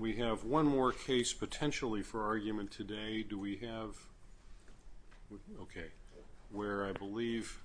We have one more case potentially for argument today. Do we have? Okay. Where I believe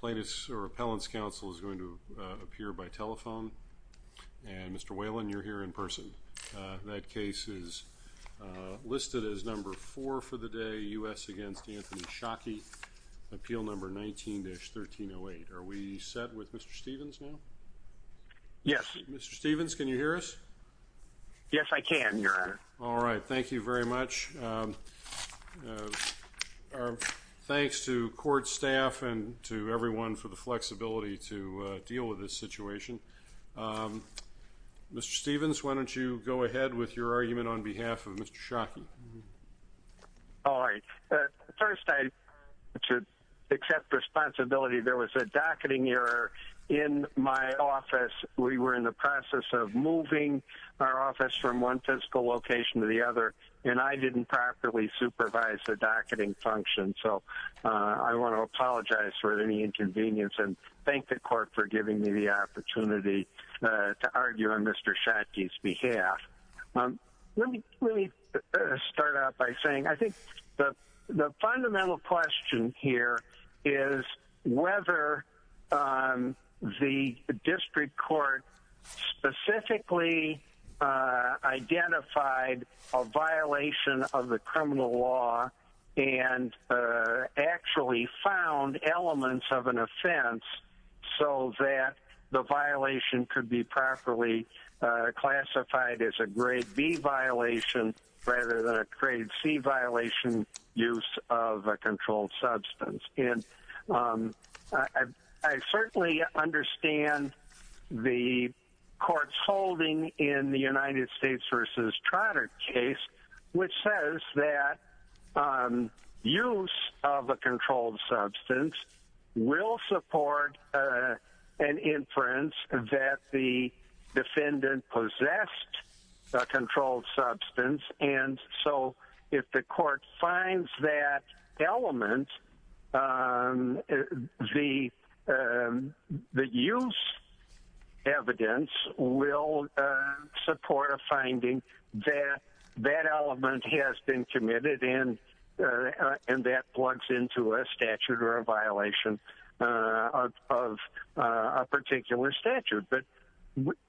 plaintiffs or appellants counsel is going to appear by telephone and Mr. Whalen you're here in person. That case is listed as number four for the day. U.S. against Anthony Shockey. Appeal number 19-1308. Are we set with Mr. Stevens now? Yes. Mr. Stevens can you hear us? Yes I can your honor. All right. Thank you very much. Our thanks to court staff and to everyone for the flexibility to deal with this situation. Mr. Stevens why don't you go ahead with your argument on behalf of Mr. Shockey. All right. First I should accept responsibility there was a docketing error in my office. We were in the process of moving our office from one fiscal location to the other and I didn't properly supervise the docketing function. So I want to apologize for any inconvenience and thank the court for giving me the opportunity to argue on Mr. Shockey's behalf. Let me start out by saying I think the fundamental question here is whether the district court specifically identified a violation of the criminal law and actually found elements of an offense so that the violation could be properly classified as a grade B violation rather than a grade C violation use of a controlled substance. And I certainly understand the court's holding in the United States versus Trotter case which says that use of a controlled substance will support an inference that the defendant possessed a controlled substance and so if the court finds that element the use evidence will support a finding that that element has been committed and that plugs into a statute or a violation of a particular statute. But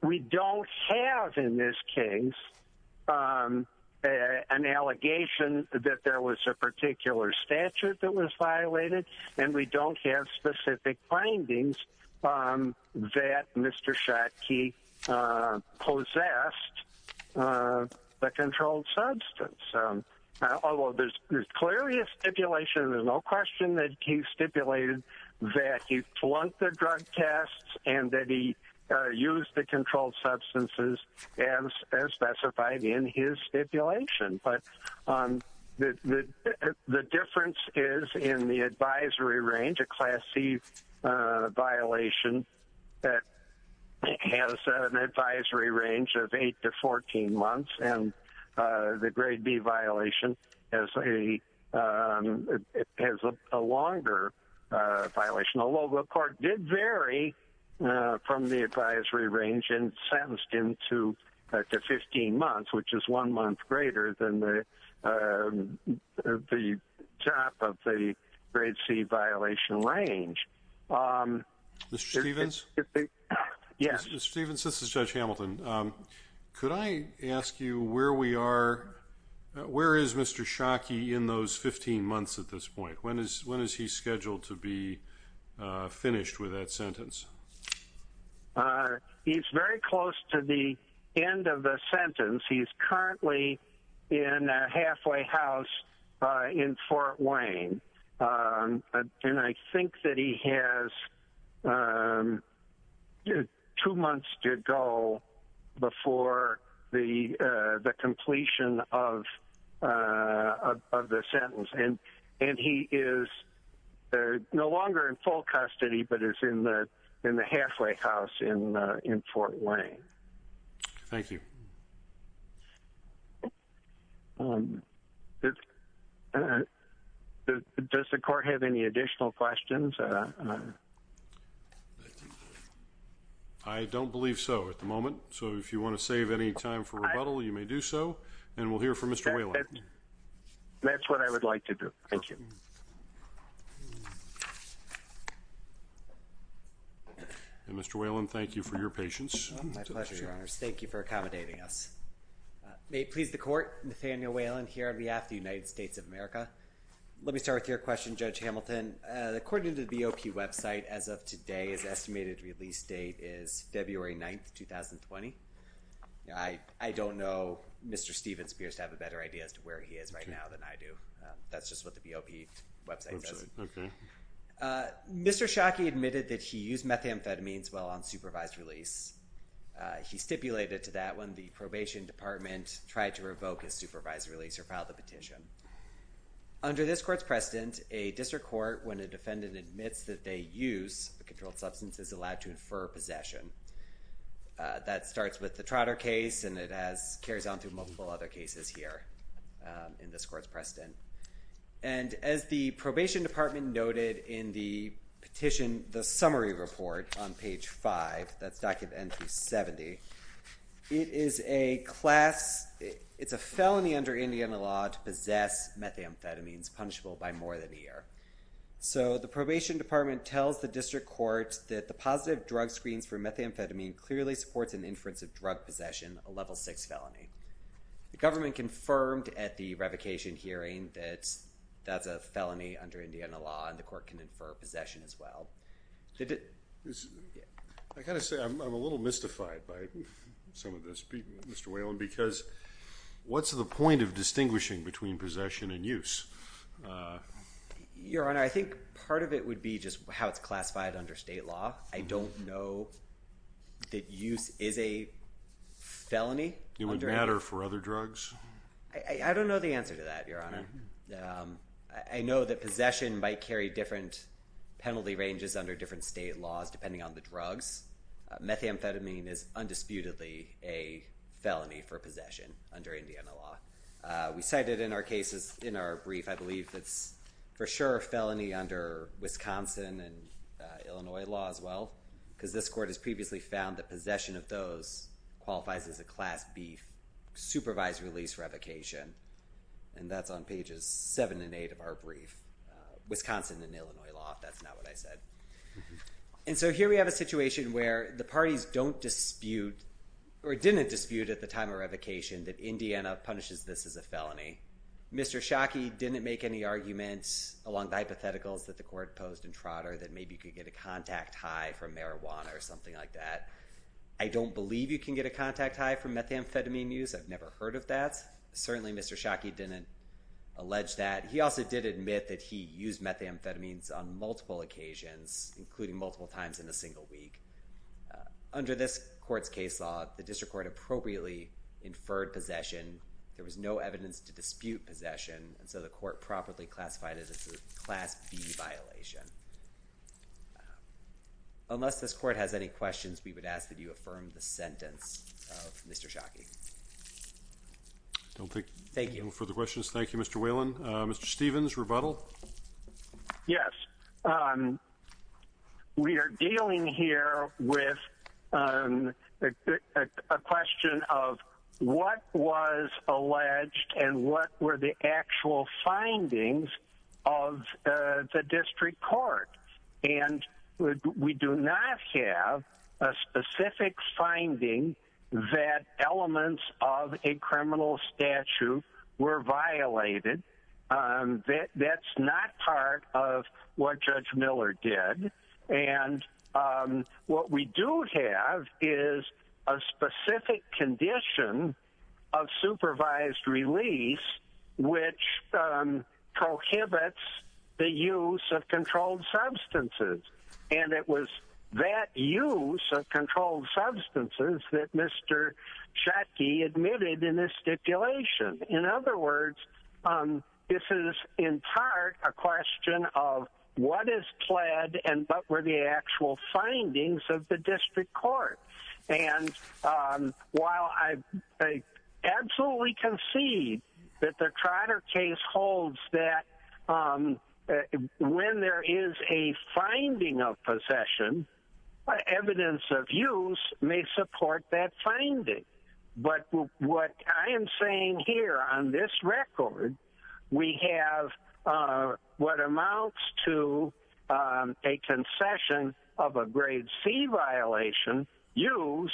we don't have in this case an allegation that there was a particular statute that was violated and we don't have specific findings that Mr. Shockey possessed the controlled substance. Although there's clearly a stipulation there's no question that he stipulated that he flunked the drug tests and that he used the controlled substances as specified in his stipulation. But the difference is in the violation that has an advisory range of 8 to 14 months and the grade B violation has a longer violation. Although the court did vary from the advisory range and sentenced him to 15 months which is one month greater than the the top of the grade C violation range. Mr. Stephens? Yes. Mr. Stephens this is Judge Hamilton. Could I ask you where we are where is Mr. Shockey in those 15 months at this point? When is when is he scheduled to be currently in a halfway house in Fort Wayne and I think that he has two months to go before the completion of the sentence and he is no longer in full custody but is in the halfway house in Fort Wayne. Thank you. Does the court have any additional questions? I don't believe so at the moment so if you want to save any time for rebuttal you may do so and we'll hear from Mr. Whalen. That's what I would like to do. Thank you. And Mr. Whalen thank you for your patience. My pleasure your honors. Thank you for accommodating us. May it please the court Nathaniel Whalen here on behalf the United States of America. Let me start with your question Judge Hamilton. According to the BOP website as of today's estimated release date is February 9th 2020. I don't know Mr. Stephens appears to have a better idea as to where he is right now than I do. That's just what the BOP website says. Okay. Mr. Shockey admitted that he used methamphetamines while on supervised release. He stipulated to that when the probation department tried to revoke his supervised release or file the petition. Under this court's precedent a district court when a defendant admits that they use a controlled substance is allowed to infer possession. That starts with the Trotter case and it has carries on through multiple other cases here in this court's precedent. And as the probation department noted in the petition the summary report on page 5 that's document 70. It is a class it's a felony under Indiana law to possess methamphetamines punishable by more than a year. So the probation department tells the district court that the positive drug screens for methamphetamine clearly supports an inference of drug possession a level 6 felony. The government confirmed at the revocation hearing that that's a felony under Indiana law and the court can infer possession as well. I kind of say I'm a little mystified by some of this Mr. Whalen because what's the point of distinguishing between possession and use? Your honor I think part of it would be just how it's classified under state law. I don't know that use is a felony. It would matter for other drugs? I don't know the answer to that your honor. I know that possession might carry different penalty ranges under different state laws depending on the drugs. Methamphetamine is undisputedly a felony for possession under Indiana law. We cited in our cases in our brief I believe that's for sure a felony under Wisconsin and Illinois law as well because this court has previously found that possession of those qualifies as a class beef supervised release revocation and that's on pages seven and eight of our brief. Wisconsin and Illinois law if that's not what I said. And so here we have a situation where the parties don't dispute or didn't dispute at the time of revocation that Indiana punishes this as a felony. Mr. Shockey didn't make any arguments along the hypotheticals that the court posed in Trotter that maybe you could get a contact high from marijuana or something like that. I don't believe you can get a contact high from methamphetamine use. I've never heard of that. Certainly Mr. Shockey didn't allege that. He also did admit that he used methamphetamines on multiple occasions including multiple times in a single week. Under this court's case law the district court appropriately inferred possession. There was no evidence to dispute possession and the court properly classified it as a class B violation. Unless this court has any questions we would ask that you affirm the sentence of Mr. Shockey. Thank you. No further questions. Thank you Mr. Whelan. Mr. Stevens rebuttal. Yes we are dealing here with a question of what was alleged and what were the actual findings of the district court. And we do not have a specific finding that elements of a criminal statute were violated. That's not part of what Judge Miller did. And what we do have is a specific condition of supervised release which prohibits the use of controlled substances. And it was that use of controlled substances that Mr. Shockey admitted in his stipulation. In other words this is in part a question of what is pled and what were the actual findings of the district court. And while I absolutely concede that the Trotter case holds that when there is a finding of possession evidence of use may support that finding. But what I am saying here on this record we have what amounts to a concession of a grade C violation use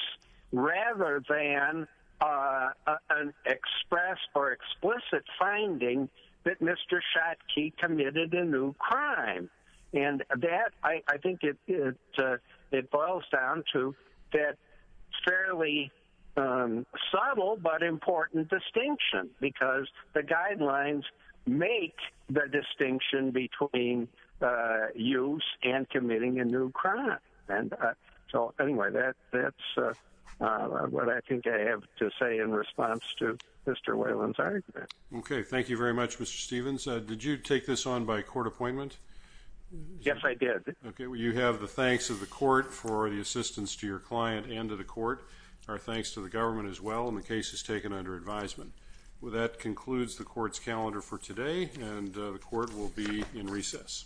rather than an express or explicit finding that Mr. Shockey committed a new crime. And that I think it boils down to that fairly subtle but important distinction. Because the guidelines make the distinction between use and committing a new crime. And so anyway that's what I think I have to say in response to Mr. Whelan's argument. Okay thank you very much Mr. Yes I did. Okay well you have the thanks of the court for the assistance to your client and to the court. Our thanks to the government as well and the cases taken under advisement. Well that concludes the court's calendar for today and the court will be in recess.